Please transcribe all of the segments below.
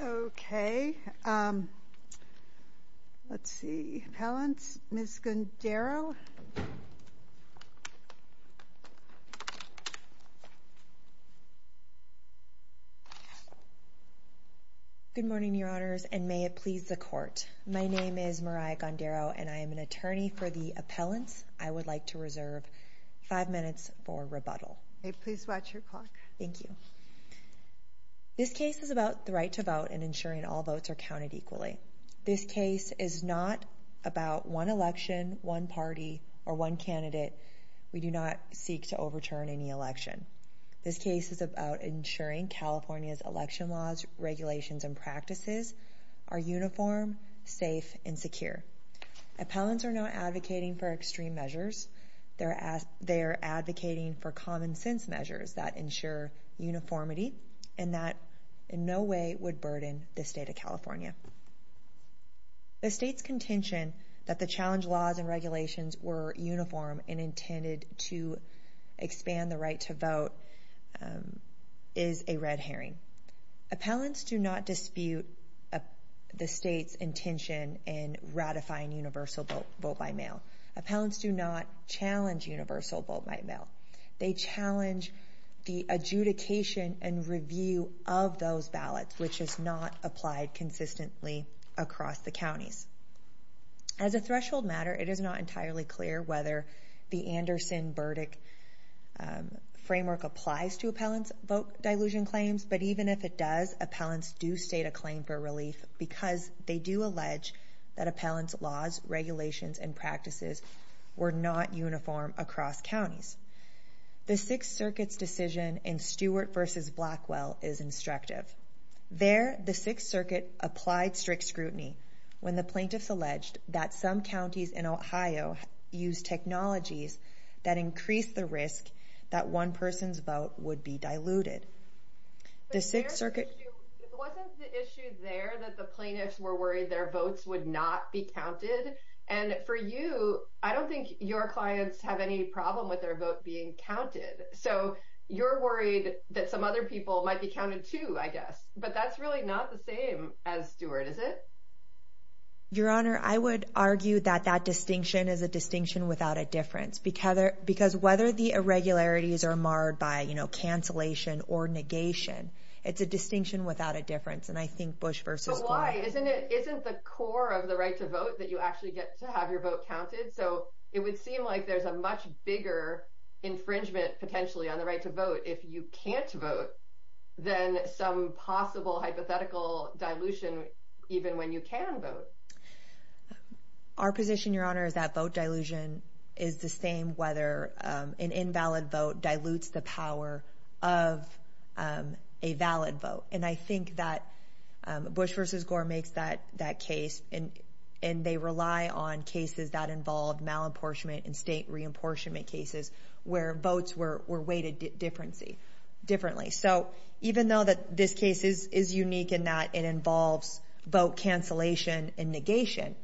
Okay, let's see. Appellants, Ms. Gondaro. Good morning, Your Honors, and may it please the Court. My name is Mariah Gondaro and I am an attorney for the appellants. I would like to reserve five minutes for rebuttal. May please watch your clock. Thank you. This case is about the right to vote and ensuring all votes are counted equally. This case is not about one election, one party, or one candidate. We do not seek to overturn any election. This case is about ensuring California's election laws, regulations, and practices are uniform, safe, and secure. Appellants are not advocating for extreme measures. They are advocating for common-sense measures that ensure uniformity and that in no way would burden the state of California. The state's contention that the challenge laws and regulations were uniform and intended to expand the right to vote is a red herring. Appellants do not dispute the state's intention in ratifying universal vote-by-mail. Appellants do not challenge universal vote-by-mail. They challenge the adjudication and review of those ballots, which is not applied consistently across the counties. As a threshold matter, it is not entirely clear whether the Anderson-Burdick framework applies to appellants' vote dilution claims, but even if it does, appellants do state a claim for relief because they do allege that were not uniform across counties. The Sixth Circuit's decision in Stewart v. Blackwell is instructive. There, the Sixth Circuit applied strict scrutiny when the plaintiffs alleged that some counties in Ohio used technologies that increased the risk that one person's vote would be diluted. The Sixth Circuit... But wasn't the issue there that the plaintiffs were worried their votes would not be counted? And for you, I don't think your clients have any problem with their vote being counted. So, you're worried that some other people might be counted too, I guess. But that's really not the same as Stewart, is it? Your Honor, I would argue that that distinction is a distinction without a difference because whether the irregularities are marred by, you know, cancellation or negation, it's a distinction without a difference. And I think Bush v. Blackwell... ...has more of the right to vote that you actually get to have your vote counted. So, it would seem like there's a much bigger infringement, potentially, on the right to vote if you can't vote than some possible hypothetical dilution even when you can vote. Our position, Your Honor, is that vote dilution is the same whether an invalid vote dilutes the power of a valid vote. And I think that Bush v. Gore makes that case and they rely on cases that involve malapportionment and state re-apportionment cases where votes were weighted differently. So, even though that this case is unique in that it involves vote cancellation and negation,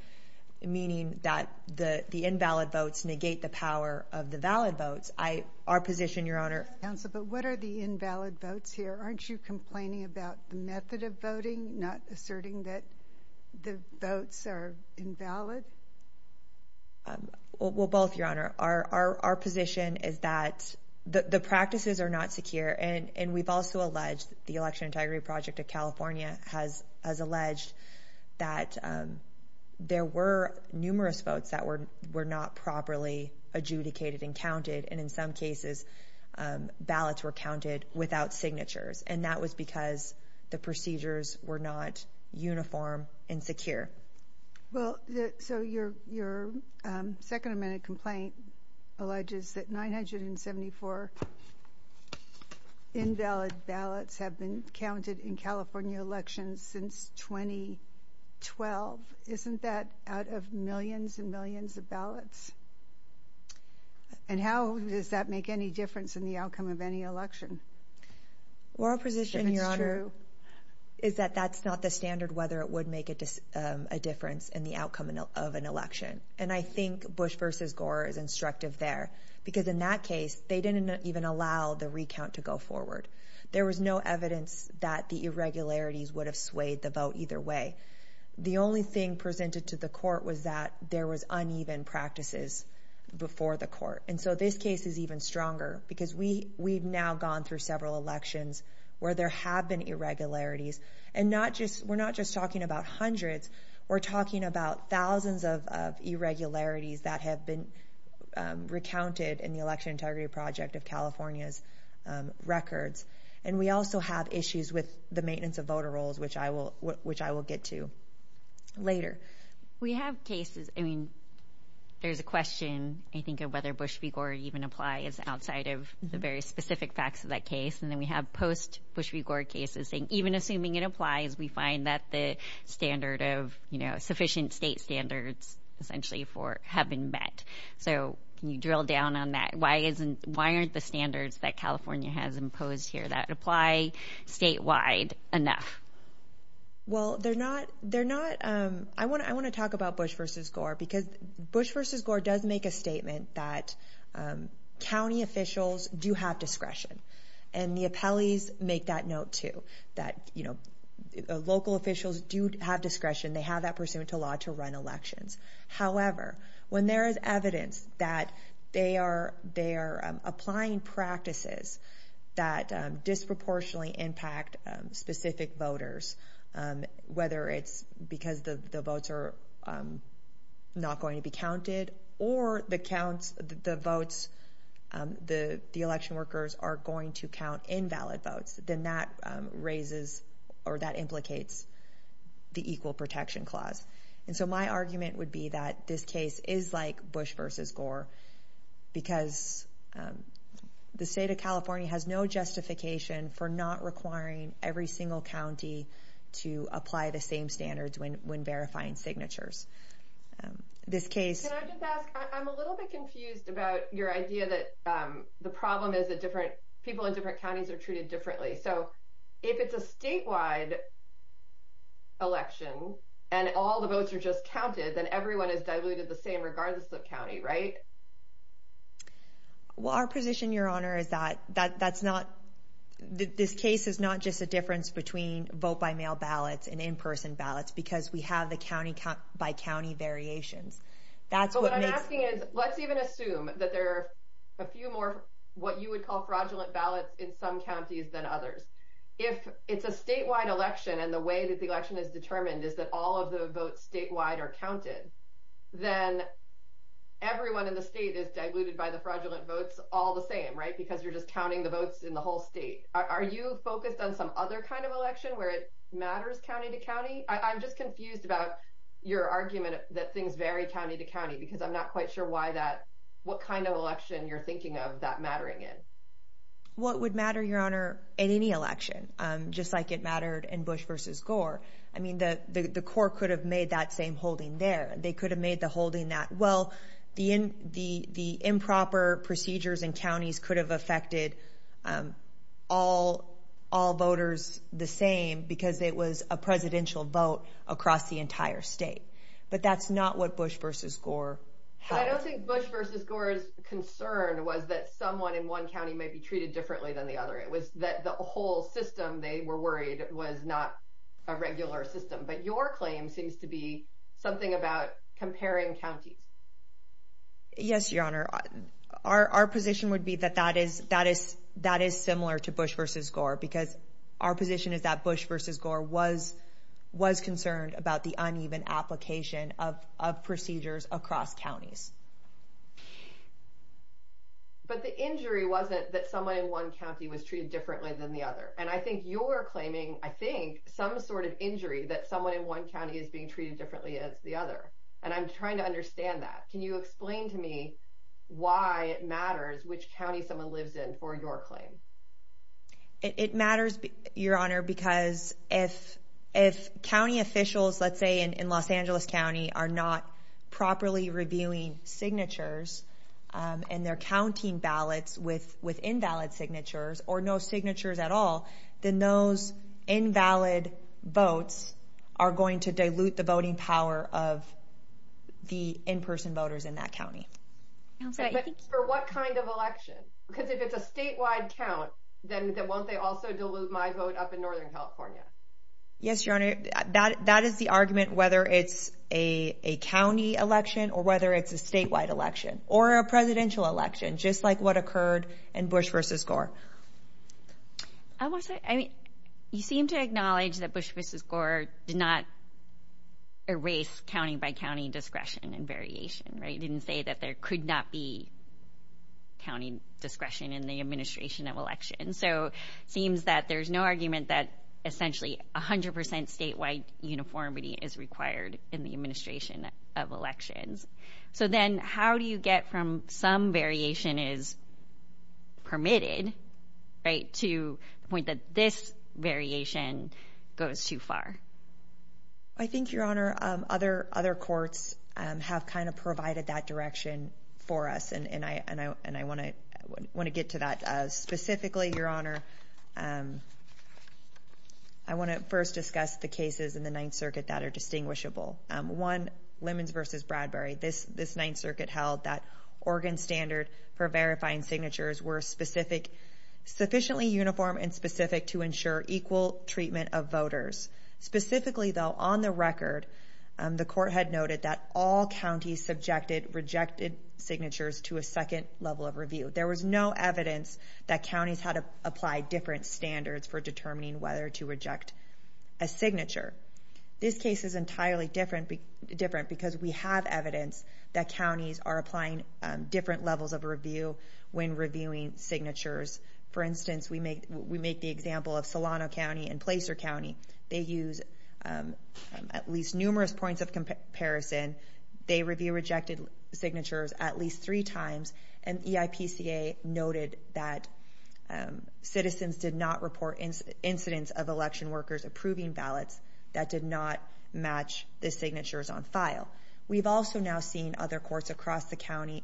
meaning that the invalid votes negate the power of the valid votes, our position, Your Honor... Counsel, but what are the invalid votes here? Aren't you complaining about the method of voting, not asserting that the votes are invalid? Well, both, Your Honor. Our position is that the practices are not secure. And we've also alleged, the Election Integrity Project of California has alleged that there were numerous votes that were not properly adjudicated and counted. And in some cases, ballots were counted without signatures. And that was because the procedures were not uniform and secure. Well, so your Second Amendment complaint alleges that 974 invalid ballots have been counted in California elections since 2012. Isn't that out of millions and millions of ballots? And how does that make any difference in the outcome of any election? Our position, Your Honor, is that that's not the standard whether it would make a difference in the outcome of an election. And I think Bush versus Gore is instructive there. Because in that case, they didn't even allow the recount to go forward. There was no evidence that the irregularities would have swayed the vote either way. The only thing presented to the court was that there was uneven practices before the court. And so this case is even stronger. Because we've now gone through several elections where there have been irregularities. And we're not just talking about hundreds, we're talking about thousands of irregularities that have been recounted in the Election Integrity Project of California's records. And we also have issues with the maintenance of voter rolls, which I will get to later. We have cases, I mean, there's a question, I think, of whether Bush v. Gore would even apply as outside of the very specific facts of that case. And then we have post-Bush v. Gore cases saying, even assuming it applies, we find that the standard of sufficient state standards, essentially, have been met. So can you drill down on that? Why aren't the standards that California has imposed here that apply statewide enough? Well, they're not... I wanna talk about Bush v. Gore, because Bush v. Gore does make a statement that county officials do have discretion. And the appellees make that note, too, that local officials do have discretion, they have that pursuant to law to run elections. However, when there is evidence that they are applying practices that disproportionately impact specific voters, whether it's because the votes are not going to be counted, or the counts, the votes, the election workers are going to count invalid votes, then that raises or that implicates the Equal Protection Clause. And so my argument would be that Bush v. Gore, because the state of California has no justification for not requiring every single county to apply the same standards when verifying signatures. This case... Can I just ask, I'm a little bit confused about your idea that the problem is that different people in different counties are treated differently. So if it's a statewide election and all the votes are just counted, then everyone is diluted the same, regardless of county, right? Well, our position, Your Honor, is that that's not... This case is not just a difference between vote by mail ballots and in person ballots, because we have the county by county variations. That's what makes... So what I'm asking is, let's even assume that there are a few more, what you would call fraudulent ballots in some counties than others. If it's a statewide election and the way that the election is determined is that all of the votes statewide are counted, then everyone in the state is diluted by the fraudulent votes all the same, right? Because you're just counting the votes in the whole state. Are you focused on some other kind of election where it matters county to county? I'm just confused about your argument that things vary county to county, because I'm not quite sure why that... What kind of election you're thinking of that mattering in. What would matter, Your Honor, in any election, just like it mattered in Bush versus Gore? I mean, the court could have made that same holding there. They could have made the holding that, well, the improper procedures in counties could have affected all voters the same because it was a presidential vote across the entire state. But that's not what Bush versus Gore had. I don't think Bush versus Gore's concern was that someone in one county might be treated differently than the other. It was that the whole system they were worried was not a regular system. But your claim seems to be something about comparing counties. Yes, Your Honor. Our position would be that that is similar to Bush versus Gore, because our position is that Bush versus Gore was concerned about the uneven application of procedures across counties. But the injury wasn't that someone in one county was treated differently than the other. And I think you're claiming, I think, some sort of injury that someone in one county is being treated differently as the other. And I'm trying to understand that. Can you explain to me why it matters which county someone lives in for your claim? It matters, Your Honor, because if county officials, let's say in Los Angeles, are not properly reviewing signatures and they're counting ballots with invalid signatures or no signatures at all, then those invalid votes are going to dilute the voting power of the in person voters in that county. For what kind of election? Because if it's a statewide count, then won't they also dilute my vote up in Northern California? Yes, Your Honor. That is the argument whether it's a county election or whether it's a statewide election or a presidential election, just like what occurred in Bush versus Gore. You seem to acknowledge that Bush versus Gore did not erase county by county discretion and variation, right? It didn't say that there could not be county discretion in the administration of elections. So it seems that there's no argument that essentially 100% statewide uniformity is required in the administration of elections. So then, how do you get from some variation is permitted, right, to the point that this variation goes too far? I think, Your Honor, other courts have kind of provided that direction for us, and I wanna get to that. Specifically, Your Honor, I wanna first discuss the cases in the Ninth Circuit that are distinguishable. One, Lemons versus Bradbury. This Ninth Circuit held that organ standard for verifying signatures were specific, sufficiently uniform and specific to ensure equal treatment of voters. Specifically, though, on the record, the court had noted that all counties subjected, rejected signatures to a second level of review. There was no evidence that counties had applied different standards for determining whether to reject a signature. This case is entirely different because we have evidence that counties are applying different levels of review when reviewing signatures. For instance, we make the example of Solano County and Placer County. They use at least numerous points of comparison. They review rejected signatures at least three times, and EIPCA noted that citizens did not report incidents of election workers approving ballots that did not match the signatures on file. We've also now seen other courts across the county,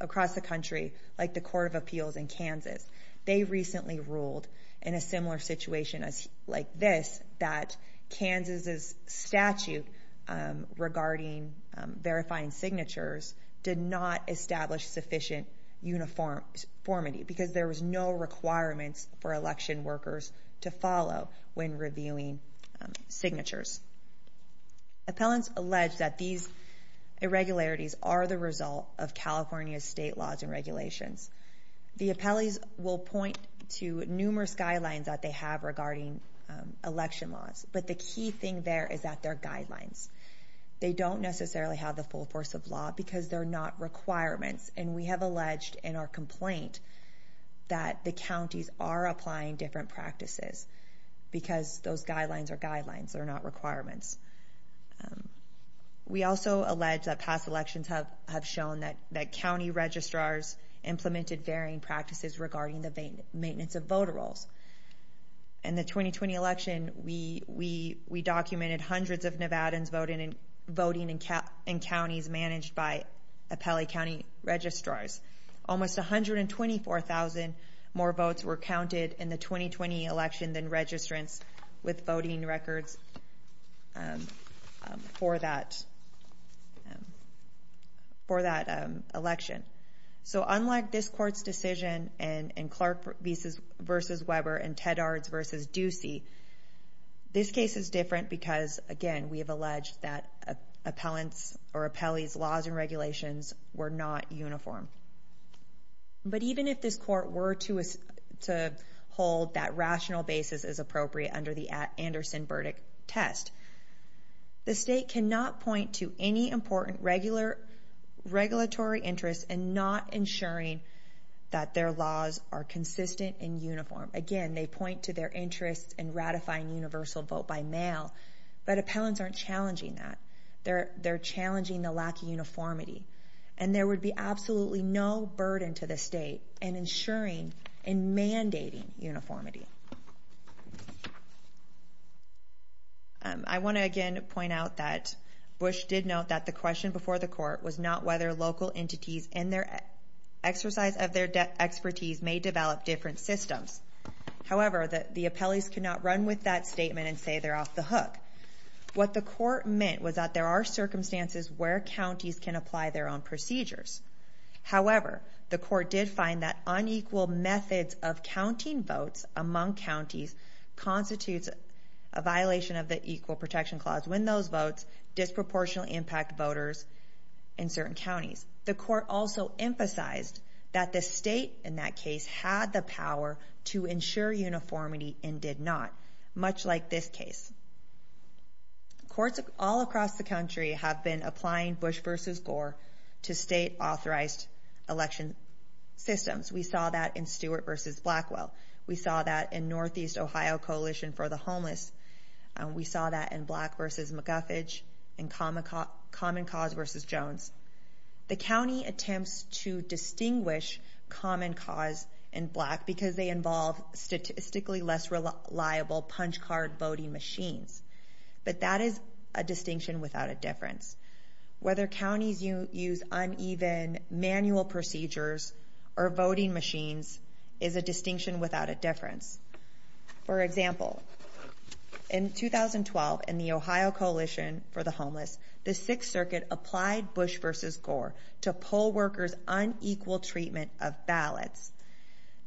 across the country, like the Court of Appeals in Kansas. They recently ruled in a similar situation like this, that Kansas' statute regarding verifying signatures did not establish sufficient uniformity because there was no requirements for election workers to follow when reviewing signatures. Appellants allege that these irregularities are the result of California's state laws and regulations. The appellees will point to numerous guidelines that they have regarding election laws, but the key thing there is that they're guidelines. They don't necessarily have the full force of law because they're not requirements, and we have alleged in our complaint that the counties are applying different practices because those guidelines are not requirements. We also allege that past elections have shown that county registrars implemented varying practices regarding the maintenance of voter rolls. In the 2020 election, we documented hundreds of Nevadans voting in counties managed by Appellee County Registrars. Almost 124,000 more votes were counted in the 2020 election than registrants with voting records for that election. So unlike this court's decision and Clark v. Weber and Teddards v. Ducey, this case is different because, again, we have alleged that appellants or appellees' laws and regulations were not uniform. But even if this court were to hold that rational basis as appropriate under the Anderson verdict test, the state cannot point to any important regulatory interests in not ensuring that their laws are consistent and uniform. Again, they point to their interests in ratifying universal vote by mail, but appellants aren't challenging that. They're challenging the lack of uniformity. And there would be absolutely no burden to the state in ensuring and mandating uniformity. I want to again point out that Bush did note that the question before the court was not whether local entities in their exercise of their expertise may develop different systems. However, the appellees cannot run with that statement and say they're off the hook. What the court meant was that there are circumstances where counties can apply their own procedures. However, the court did find that unequal methods of counting votes among counties constitutes a violation of the Equal Protection Clause when those votes disproportionately impact voters in certain counties. The court also emphasized that the state in that case had the power to ensure uniformity and did not, much like this case. Courts all across the country have been applying Bush versus Gore to state authorized election systems. We saw that in Stewart versus Blackwell. We saw that in Northeast Ohio Coalition for the Homeless. We saw that in Black versus McGuffage and Common Cause versus Jones. The county attempts to distinguish Common Cause and Black because they involve statistically less reliable punch card voting machines. But that is a distinction without a difference. Whether counties use uneven manual procedures or voting machines is a distinction without a difference. For example, in 2012, in the Ohio Coalition for the Homeless, the Sixth Circuit applied Bush versus Gore to poll workers unequal treatment of ballots.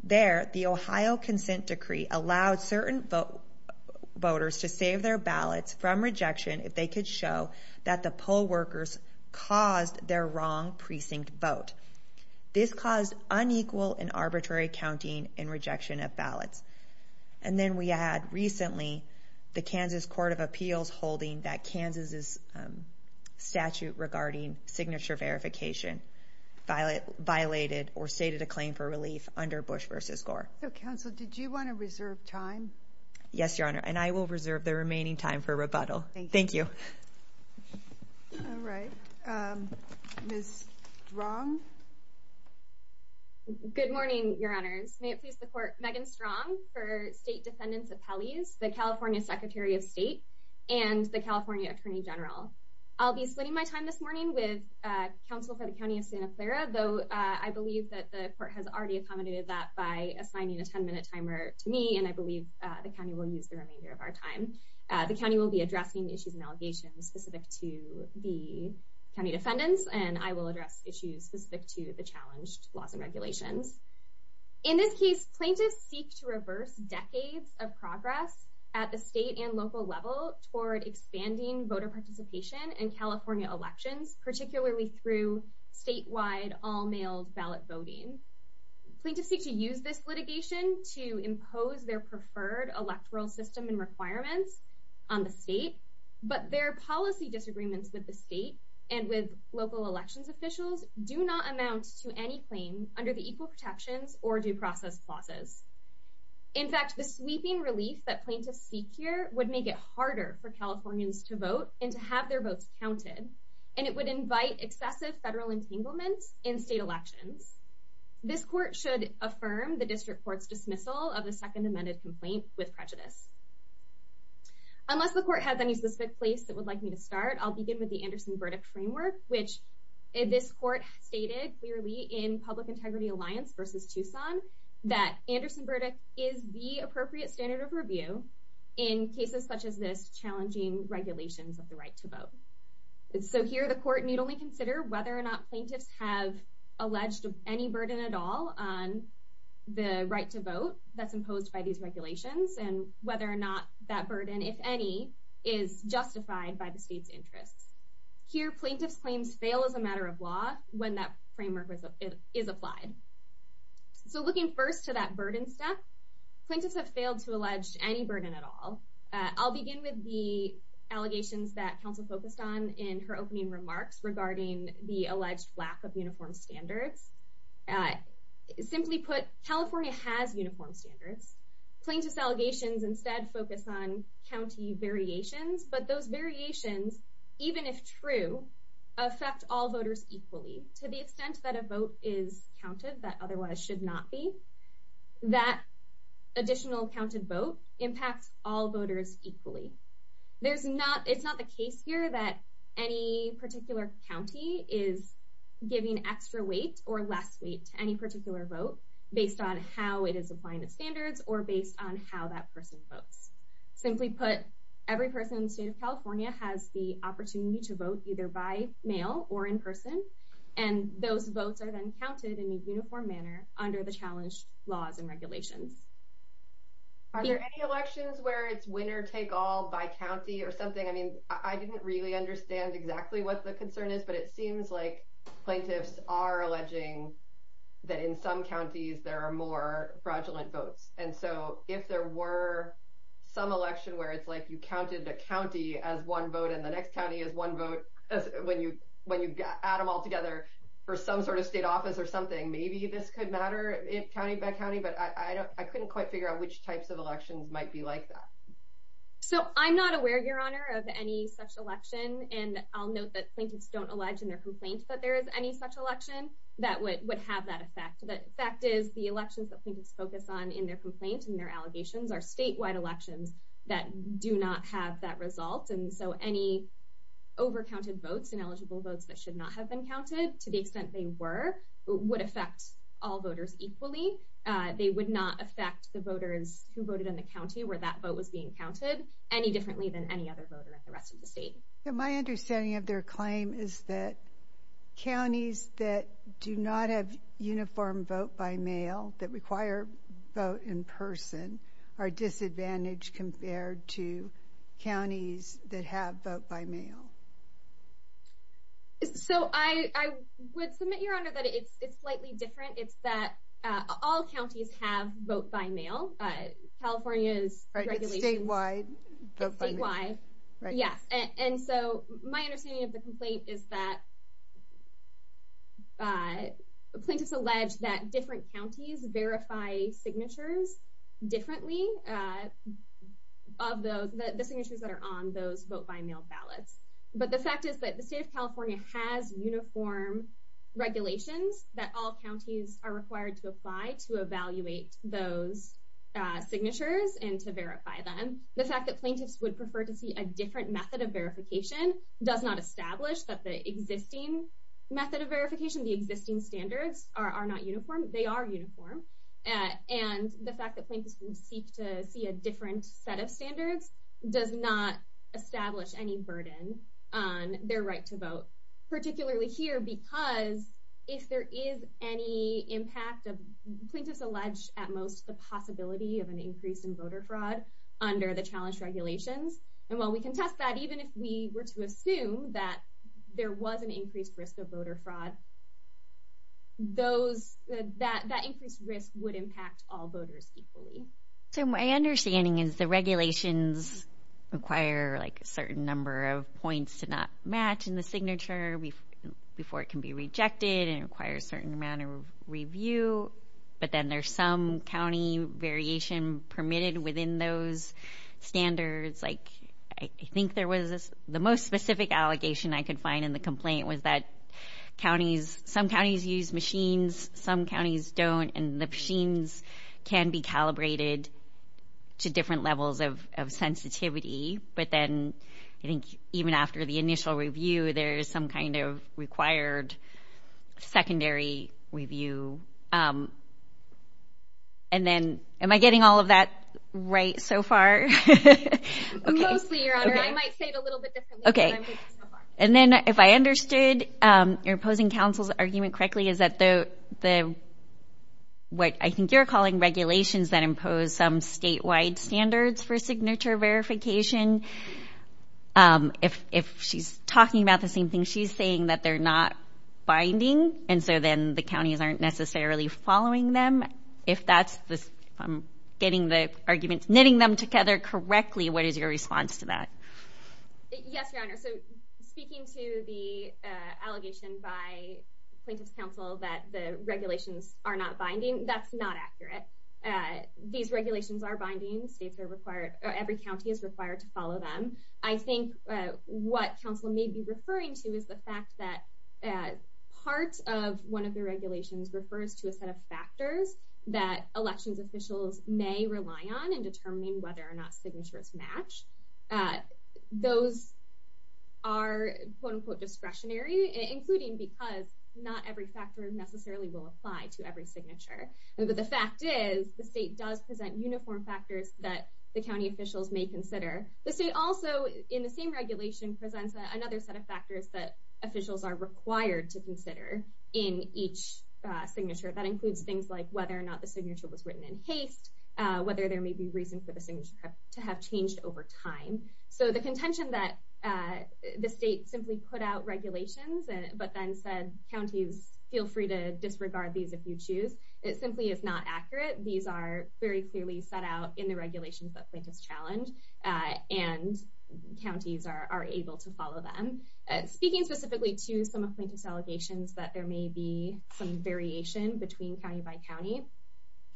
There, the Ohio Consent Decree allowed certain voters to save their ballots from rejection if they could show that the poll workers caused their wrong precinct vote. This caused unequal and arbitrary counting and rejection of ballots. And then we had recently the Kansas Court of Appeals holding that Kansas' statute regarding signature verification violated or stated a claim for relief under Bush versus Gore. So, Counsel, did you want to reserve time? Yes, Your Honor, and I will reserve the remaining time for rebuttal. Thank you. All right. Um, Ms. Strong. Good morning, Your Honors. May it please the Court, Megan Strong for State Defendants Appellees, the California Secretary of State and the California Attorney General. I'll be spending my time this morning with, uh, counsel for the county of Santa Clara, though I believe that the court has already accommodated that by assigning a 10 minute timer to me, and I believe the county will use the remainder of our time. The county will be addressing issues and allegations specific to the county defendants, and I will address issues specific to the challenged laws and regulations. In this case, plaintiffs seek to reverse decades of progress at the state and local level toward expanding voter participation in California elections, particularly through statewide all mailed ballot voting. Plaintiffs seek to use this litigation to impose their preferred electoral system and requirements on the state, but their policy disagreements with the state and with local elections officials do not amount to any claim under the equal protections or due process clauses. In fact, the sweeping relief that plaintiffs seek here would make it harder for Californians to vote and to invite excessive federal entanglement in state elections. This court should affirm the district court's dismissal of the second amended complaint with prejudice. Unless the court has any specific place that would like me to start, I'll begin with the Anderson verdict framework, which this court stated clearly in Public Integrity Alliance versus Tucson that Anderson verdict is the appropriate standard of review in cases such as this challenging regulations of the right to vote. So here, the court need only consider whether or not plaintiffs have alleged any burden at all on the right to vote that's imposed by these regulations and whether or not that burden, if any, is justified by the state's interests. Here, plaintiffs claims fail as a matter of law when that framework is applied. So looking first to that burden step, plaintiffs have failed to allege any burden at all. I'll begin with the allegations that counsel focused on in her opening remarks regarding the alleged lack of uniform standards. Uh, simply put, California has uniform standards. Plaintiffs allegations instead focus on county variations, but those variations, even if true, affect all voters equally. To the extent that a counted vote impacts all voters equally. There's not, it's not the case here that any particular county is giving extra weight or less weight to any particular vote based on how it is applying the standards or based on how that person votes. Simply put, every person in the state of California has the opportunity to vote either by mail or in person, and those votes are then counted in a uniform manner under the challenge laws and regulations. Are there any elections where it's winner take all by county or something? I mean, I didn't really understand exactly what the concern is, but it seems like plaintiffs are alleging that in some counties there are more fraudulent votes. And so if there were some election where it's like you counted a county as one vote and the next county is one vote when you, when you add them all together for some sort of state office or something, maybe this could matter if county by county, but I don't, I couldn't quite figure out which types of elections might be like that. So I'm not aware, Your Honor, of any such election, and I'll note that plaintiffs don't allege in their complaint that there is any such election that would, would have that effect. The fact is the elections that plaintiffs focus on in their complaint and their allegations are statewide elections that do not have that result. And so any over counted votes, ineligible votes that should not have been counted to the extent they were, would affect all voters equally. They would not affect the voters who voted in the county where that vote was being counted any differently than any other voter at the rest of the state. My understanding of their claim is that counties that do not have uniform vote by mail that require vote in person are disadvantaged compared to counties that have vote by mail. So I would submit, Your Honor, that it's slightly different. It's that all counties have vote by mail. California's regulations... Right, it's statewide vote by mail. It's statewide, yes. And so my understanding of the complaint is that plaintiffs allege that different counties verify signatures differently of the signatures that are on those vote by mail ballots. But the fact is that the state of California has uniform regulations that all counties are able to evaluate those signatures and to verify them. The fact that plaintiffs would prefer to see a different method of verification does not establish that the existing method of verification, the existing standards, are not uniform. They are uniform. And the fact that plaintiffs would seek to see a different set of standards does not establish any burden on their right to vote. Particularly here because if there is any impact of... Plaintiffs allege at most the possibility of an increase in voter fraud under the challenge regulations. And while we can test that, even if we were to assume that there was an increased risk of voter fraud, that increased risk would impact all voters equally. So my understanding is the regulations require a certain number of points to not match in the signature before it can be rejected and require a certain amount of review. But then there's some county variation permitted within those standards. I think there was the most specific allegation I could find in the complaint was that some counties use machines, some counties don't. And the machines can be calibrated to different levels of sensitivity. But then I think even after the initial review, there is some kind of required secondary review. And then... Am I getting all of that right so far? Mostly, Your Honor. I might say it a little bit differently. Okay. And then if I understood your opposing counsel's argument correctly, is that the... What I think you're calling regulations that impose some signature verification, if she's talking about the same thing, she's saying that they're not binding. And so then the counties aren't necessarily following them. If that's the... If I'm getting the arguments, knitting them together correctly, what is your response to that? Yes, Your Honor. So speaking to the allegation by plaintiff's counsel that the regulations are not binding, that's not accurate. These regulations are binding. States are required... Every county is required to follow them. I think what counsel may be referring to is the fact that part of one of the regulations refers to a set of factors that elections officials may rely on in determining whether or not signatures match. Those are, quote-unquote, discretionary, including because not every factor necessarily will apply to every signature. But the fact is the state does present uniform factors that the county officials may consider. The state also, in the same regulation, presents another set of factors that officials are required to consider in each signature. That includes things like whether or not the signature was written in haste, whether there may be reason for the signature to have changed over time. So the contention that the state simply put out simply is not accurate. These are very clearly set out in the regulations that plaintiffs challenge, and counties are able to follow them. Speaking specifically to some of plaintiff's allegations that there may be some variation between county by county,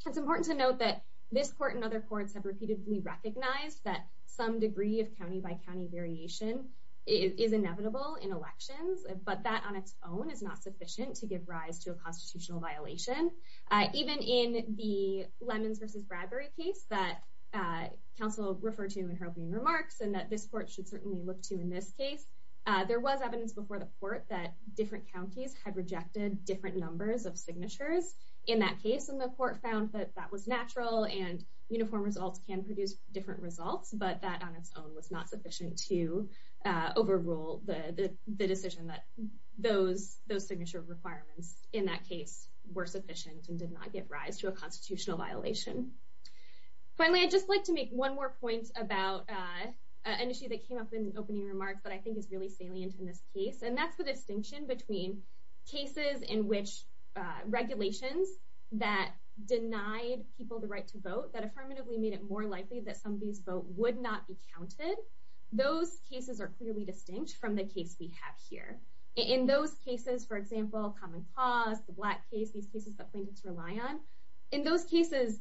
it's important to note that this court and other courts have repeatedly recognized that some degree of county by county variation is inevitable in elections, but that on its own is not sufficient to give rise to a constitutional violation. Even in the Lemons v. Bradbury case that counsel referred to in her opening remarks and that this court should certainly look to in this case, there was evidence before the court that different counties had rejected different numbers of signatures in that case, and the court found that that was natural and uniform results can produce different results, but that on its own was not sufficient to give rise to a constitutional violation. Finally, I'd just like to make one more point about an issue that came up in the opening remarks that I think is really salient in this case, and that's the distinction between cases in which regulations that denied people the right to vote, that affirmatively made it more likely that somebody's vote would not be counted, those cases are clearly cases that plaintiffs rely on. In those cases,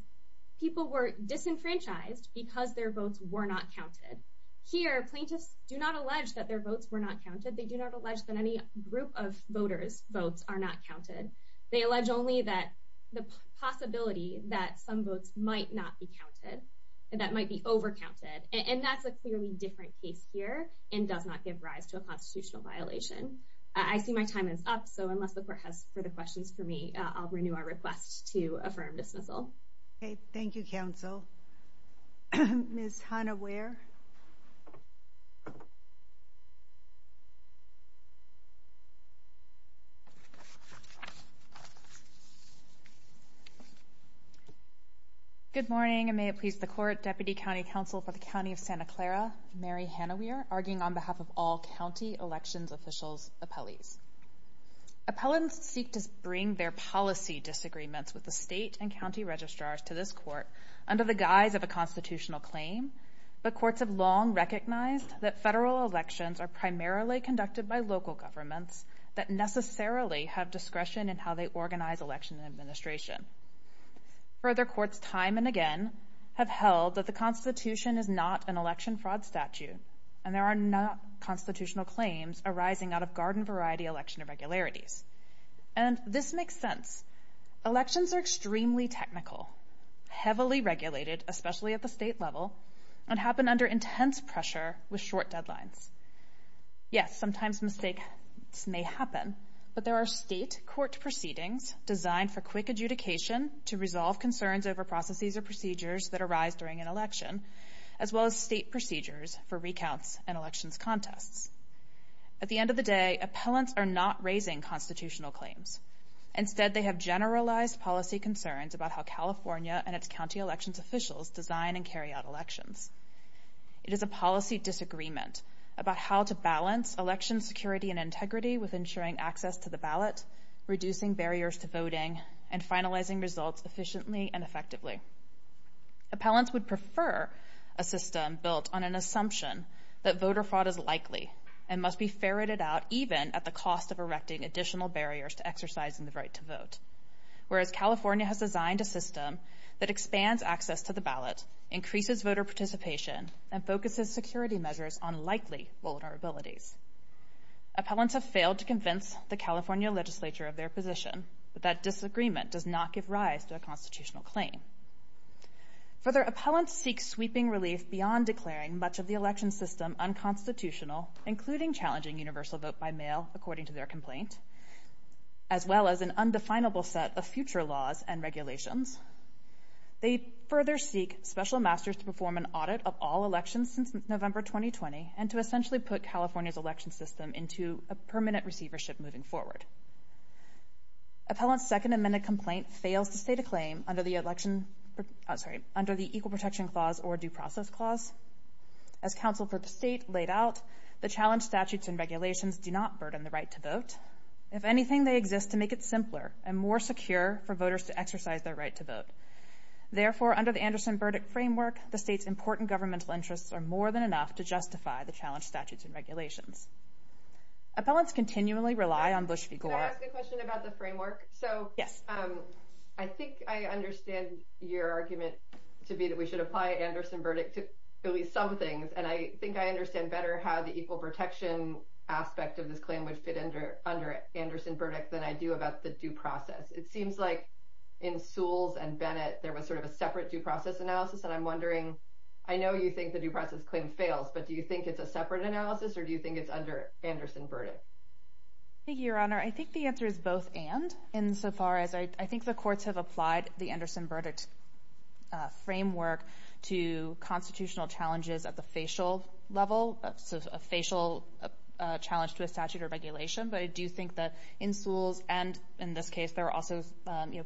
people were disenfranchised because their votes were not counted. Here, plaintiffs do not allege that their votes were not counted. They do not allege that any group of voters' votes are not counted. They allege only that the possibility that some votes might not be counted, that might be overcounted, and that's a clearly different case here and does not give rise to a constitutional violation. I see my time is up, so unless the court has further questions for me, I'll renew our request to affirm dismissal. Thank you, counsel. Ms. Hanna-Weir? Good morning, and may it please the court, Deputy County Counsel for the County of Santa Rosa County Council's appellees. Appellants seek to bring their policy disagreements with the state and county registrars to this court under the guise of a constitutional claim, but courts have long recognized that federal elections are primarily conducted by local governments that necessarily have discretion in how they organize election administration. Further, courts time and again have held that the Constitution is not an election fraud statute, and there are not constitutional claims arising out of garden-variety election irregularities. And this makes sense. Elections are extremely technical, heavily regulated, especially at the state level, and happen under intense pressure with short deadlines. Yes, sometimes mistakes may happen, but there are state court proceedings designed for quick adjudication to resolve concerns over processes or procedures that arise during an election, as well as state procedures for recounts and elections contests. At the end of the day, appellants are not raising constitutional claims. Instead, they have generalized policy concerns about how California and its county elections officials design and carry out elections. It is a policy disagreement about how to balance election security and integrity with ensuring access to the ballot, reducing barriers to voting, and finalizing results efficiently and effectively. Appellants would prefer a system built on an assumption that voter fraud is likely and must be ferreted out even at the cost of erecting additional barriers to exercising the right to vote, whereas California has designed a system that expands access to the ballot, increases voter participation, and focuses security measures on likely vulnerabilities. Appellants have failed to convince the California legislature of their position, but that disagreement does not give rise to a constitutional claim. Further, appellants seek sweeping relief beyond declaring much of the election system unconstitutional, including challenging universal vote-by-mail, according to their complaint, as well as an undefinable set of future laws and regulations. They further seek special masters to perform an audit of all elections since November 2020 and to essentially put California's election system into a permanent receivership moving forward. Appellants' second amended complaint fails to state a claim under the Equal Protection Clause or Due Process Clause. As counsel for the state laid out, the challenged statutes and regulations do not burden the right to vote. If anything, they exist to make it simpler and more secure for voters to exercise their right to vote. Therefore, under the Anderson verdict framework, the state's important governmental interests are more than enough to justify the challenged statutes and regulations. Appellants continually rely on Bush v. Gore. Can I ask a question about the framework? So, I think I understand your argument to be that we should apply Anderson verdict to at least some things, and I think I understand better how the equal protection aspect of this claim would fit under Anderson verdict than I do about the due process. It seems like in Sewells and Bennett, there was sort of a separate due process analysis, and I'm wondering, I know you think the due process claim fails, but do you think it's a separate analysis, or do you think it's under Anderson verdict? Thank you, Your Honor. I think the answer is both and, insofar as I think the courts have applied the Anderson verdict framework to constitutional challenges at the facial level, so a facial challenge to a statute or regulation, but I do think that in Sewells and in this case, there were also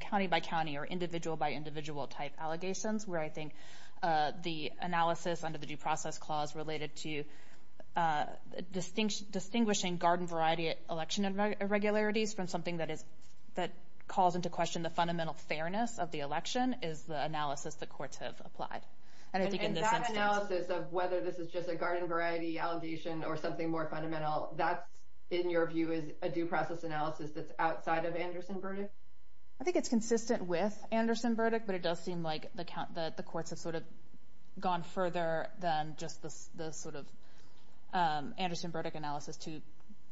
county by county or individual by individual type allegations where I think the analysis under the due process clause related to distinguishing garden variety election irregularities from something that calls into question the fundamental fairness of the election is the analysis the courts have applied. And that analysis of whether this is just a garden variety allegation or something more fundamental, that in your view is a due process analysis that's outside of Anderson verdict? I think it's consistent with Anderson verdict, but it does seem like the courts have sort of gone further than just the sort of Anderson verdict analysis to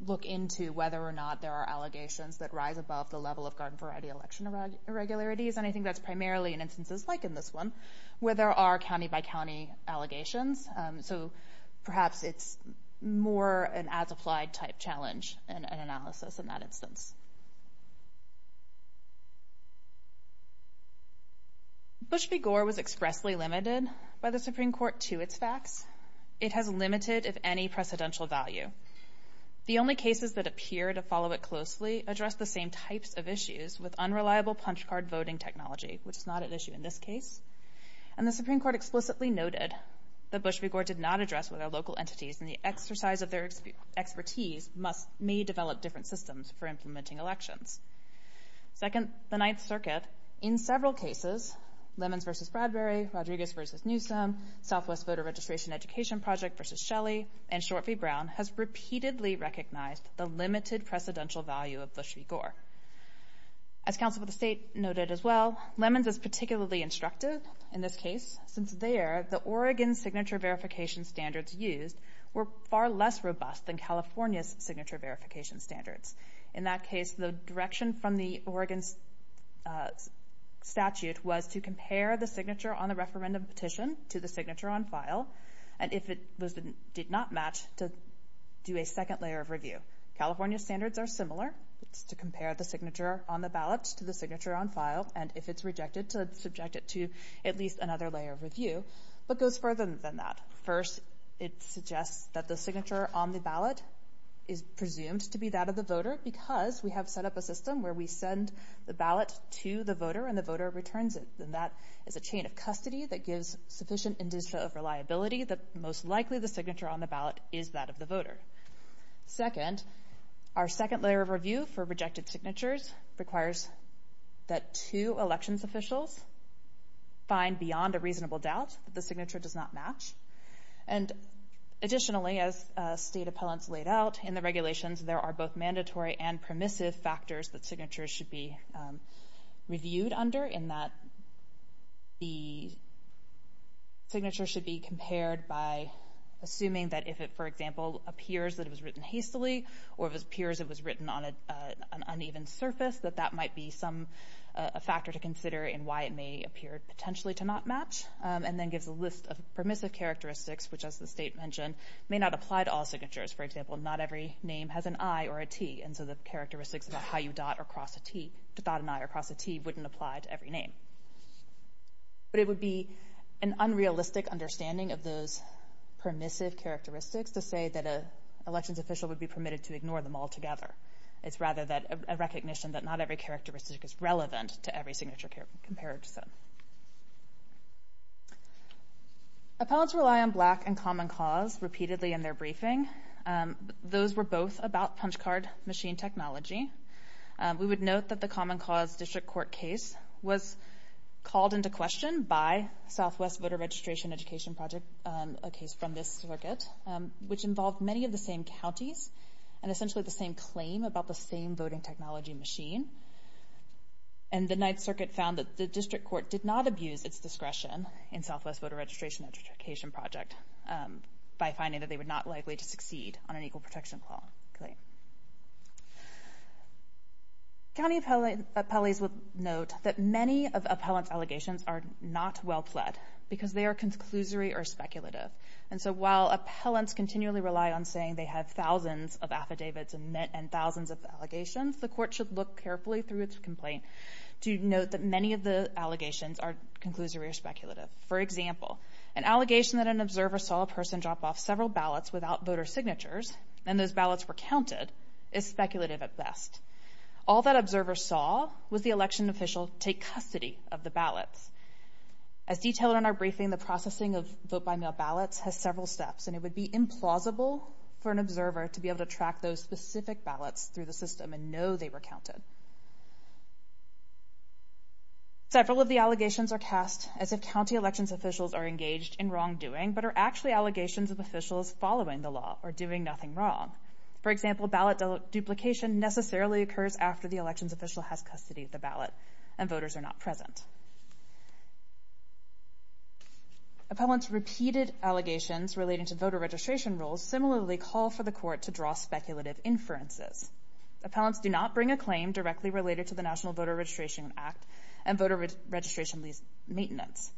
look into whether or not there are allegations that rise above the level of garden variety election irregularities, and I think that's primarily in instances like in this one where there are county by county allegations, so perhaps it's more an as-applied type challenge and analysis in that instance. Bush v. Gore was expressly limited by the Supreme Court to its facts. It has limited if any precedential value. The only cases that appear to follow it closely address the same types of issues with unreliable punch card voting technology, which is not an issue in this case, and the Supreme Court explicitly noted that Bush v. Gore did not address whether local entities in the exercise of their expertise may develop different systems for implementing elections. Second, the Ninth Circuit, in several cases, Lemons v. Bradbury, Rodriguez v. Newsom, Southwest Voter Registration Education Project v. Shelley, and Short v. Brown, has repeatedly recognized the limited precedential value of Bush v. Gore. As counsel for the state noted as well, Lemons is particularly instructive in this case, since there, the Oregon signature verification standards used were far less robust than California's signature verification standards. In that case, the direction from the Oregon statute was to compare the signature on the referendum petition to the signature on file, and if it did not match, to do a second layer of review. California's standards are similar. It's to compare the signature on the ballot to the signature on file, and if it's rejected, to subject it to at least another layer of review. What goes further than that? First, it suggests that the signature on the ballot is presumed to be that of the voter, because we have set up a system where we send the ballot to the voter, and the voter returns it, and that is a chain of custody that gives sufficient indicia of reliability that most likely the signature on the ballot is that of the voter. Second, our second layer of review for rejected signatures requires that two elections officials find beyond a reasonable doubt that the signature does not match, and additionally, as state appellants laid out in the regulations, there are both mandatory and permissive factors that signatures should be reviewed under, in that the signature should be compared by assuming that if it, for example, appears that it was written hastily, or it appears it was written on an uneven surface, that that might be a factor to consider in why it may appear potentially to not match, and then gives a list of permissive characteristics which, as the state mentioned, may not apply to all signatures. For example, not every name has an I or a T, and so the characteristics about how you dot an I or cross a T wouldn't apply to every name. But it would be an unrealistic understanding of those permissive characteristics to say that an elections official would be permitted to ignore them altogether. It's rather a recognition that not every characteristic is relevant to every signature compared to some. Appellants rely on black and common cause repeatedly in their briefing. Those were both about punch card machine technology. We would note that the common cause district court case was called into question by Southwest Voter Registration Education Project, a case from this circuit, which involved many of the same counties and essentially the same claim about the same voting technology machine. And the Ninth Circuit found that the district court did not abuse its discretion in Southwest Voter Registration Education Project by finding that they were not likely to succeed on an equal protection claim. County appellees would note that many of appellant's allegations are not well-pled because they are conclusory or speculative. And so while appellants continually rely on saying they have thousands of affidavits and thousands of allegations, the court should look carefully through its complaint to note that many of the allegations are conclusory or speculative. For example, an allegation that an observer saw a person drop off several ballots without voter signatures and those ballots were counted is speculative at best. All that observer saw was the election official take custody of the ballots. As detailed in our briefing, the processing of vote-by-mail ballots has several steps and it would be implausible for an observer to be able to track those specific ballots through the system and know they were counted. Several of the allegations of officials following the law or doing nothing wrong. For example, ballot duplication necessarily occurs after the election official has custody of the ballot and voters are not present. Appellants' repeated allegations relating to voter registration rules similarly call for the court to draw speculative inferences. Appellants do not bring a claim directly related to the National Voter Registration Act and voter registration maintenance.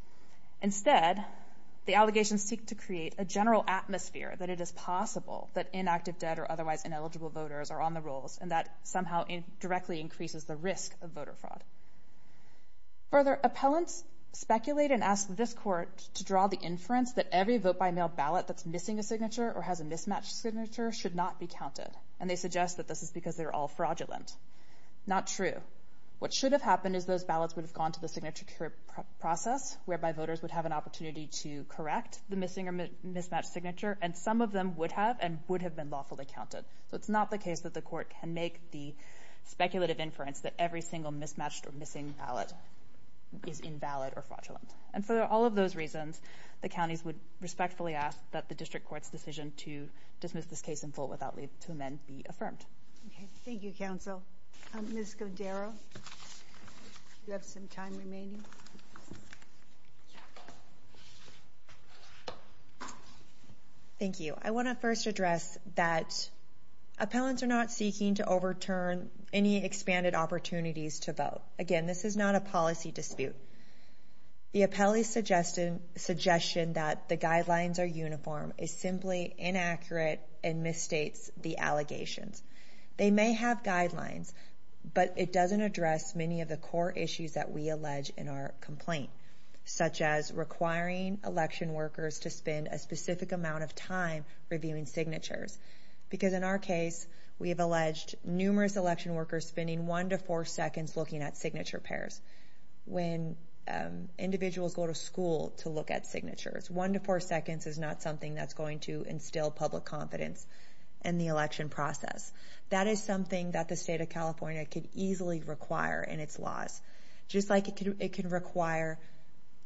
Instead, the allegations seek to create a general atmosphere that it is possible that inactive, dead, or otherwise ineligible voters are on the rolls and that somehow directly increases the risk of voter fraud. Further, appellants speculate and ask this court to draw the inference that every vote-by-mail ballot that's missing a signature or has a mismatched signature should not be counted and they suggest that this is because they're all fraudulent. Not true. What should have happened is those ballots would have gone to the signature process whereby voters would have an opportunity to correct the missing or mismatched signature and some of them would have and would have been lawfully counted. So it's not the case that the court can make the speculative inference that every single mismatched or missing ballot is invalid or fraudulent. And for all of those reasons, the counties would respectfully ask that the District Court's decision to dismiss this case in full without leave to amend be affirmed. Thank you, Counsel. Ms. Godero, you have some time remaining. Thank you. I want to first address that appellants are not seeking to overturn any expanded opportunities to vote. Again, this is not a policy dispute. The appellee's suggestion that the guidelines are uniform is simply inaccurate and misstates the allegations. They may have guidelines, but it doesn't address many of the core issues that we allege in our complaint, such as requiring election workers to spend a specific amount of time reviewing signatures. Because in our case, we have alleged numerous election workers spending one to four seconds looking at signature pairs. When individuals go to school to look at signatures, one to four seconds is not something that's going to instill public confidence in the election process. That is something that the state of California could easily require in its laws. Just like it could require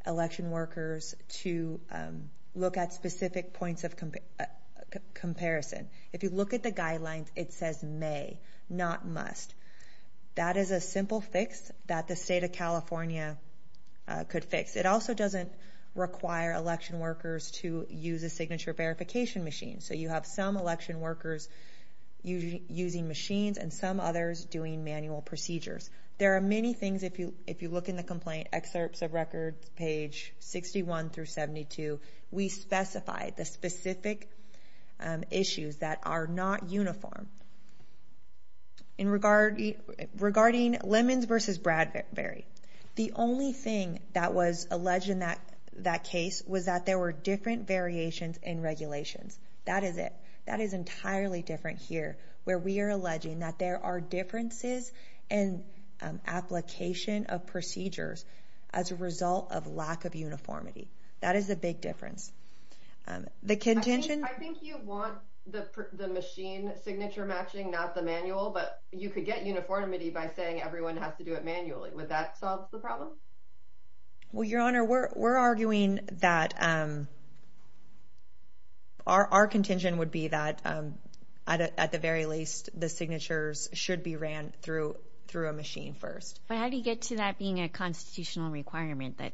election workers to look at specific points of comparison. If you look at the guidelines, it says may, not must. That is a simple fix that the state of California could fix. It also doesn't require election workers to use a signature verification machine. So you have some election workers using machines and some others doing manual procedures. There are many things, if you look in the complaint, excerpts of records, page 61 through 72, we specify the specific issues that are not uniform. Regarding Lemons v. Bradbury, the only thing that was alleged in that case was that there were different variations in regulations. That is it. That is entirely different here, where we are alleging that there are differences in application of procedures as a result of lack of uniformity. That is the big difference. I think you want the machine signature matching, not the manual, but you could get uniformity by saying everyone has to do it manually. Would that solve the problem? Your Honor, we are arguing that our contention would be that, at the very least, the signatures should be ran through a machine first. But how do you get to that being a constitutional requirement that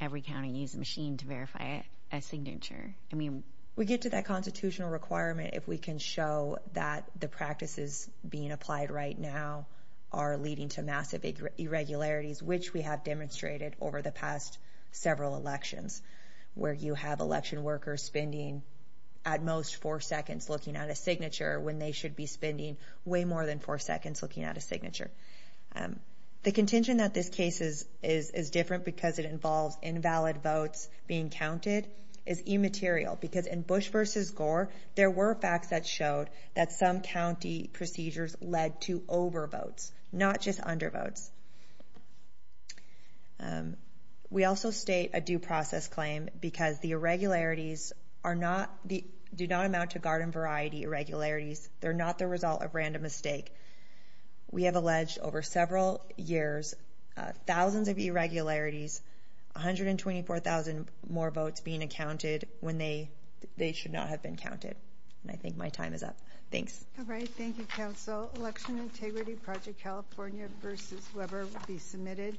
every county needs a machine to verify a signature? We get to that constitutional requirement if we can show that the practices being applied right now are leading to massive irregularities, which we have demonstrated over the past several elections, where you have election workers spending, at most, four seconds looking at a signature, when they should be spending way more than four seconds looking at a signature. The contention that this case is different because it involves invalid votes being counted is immaterial, because in Bush v. Gore, there were facts that showed that some county procedures led to overvotes, not just undervotes. We also state a due process claim because the irregularities do not amount to garden variety irregularities. They're not the result of random mistake. We have alleged, over several years, thousands of irregularities, 124,000 more votes being counted when they should not have been counted. I think my time is up. Thanks. All right. Thank you, Council. Election Integrity Project California v. Weber will be submitted.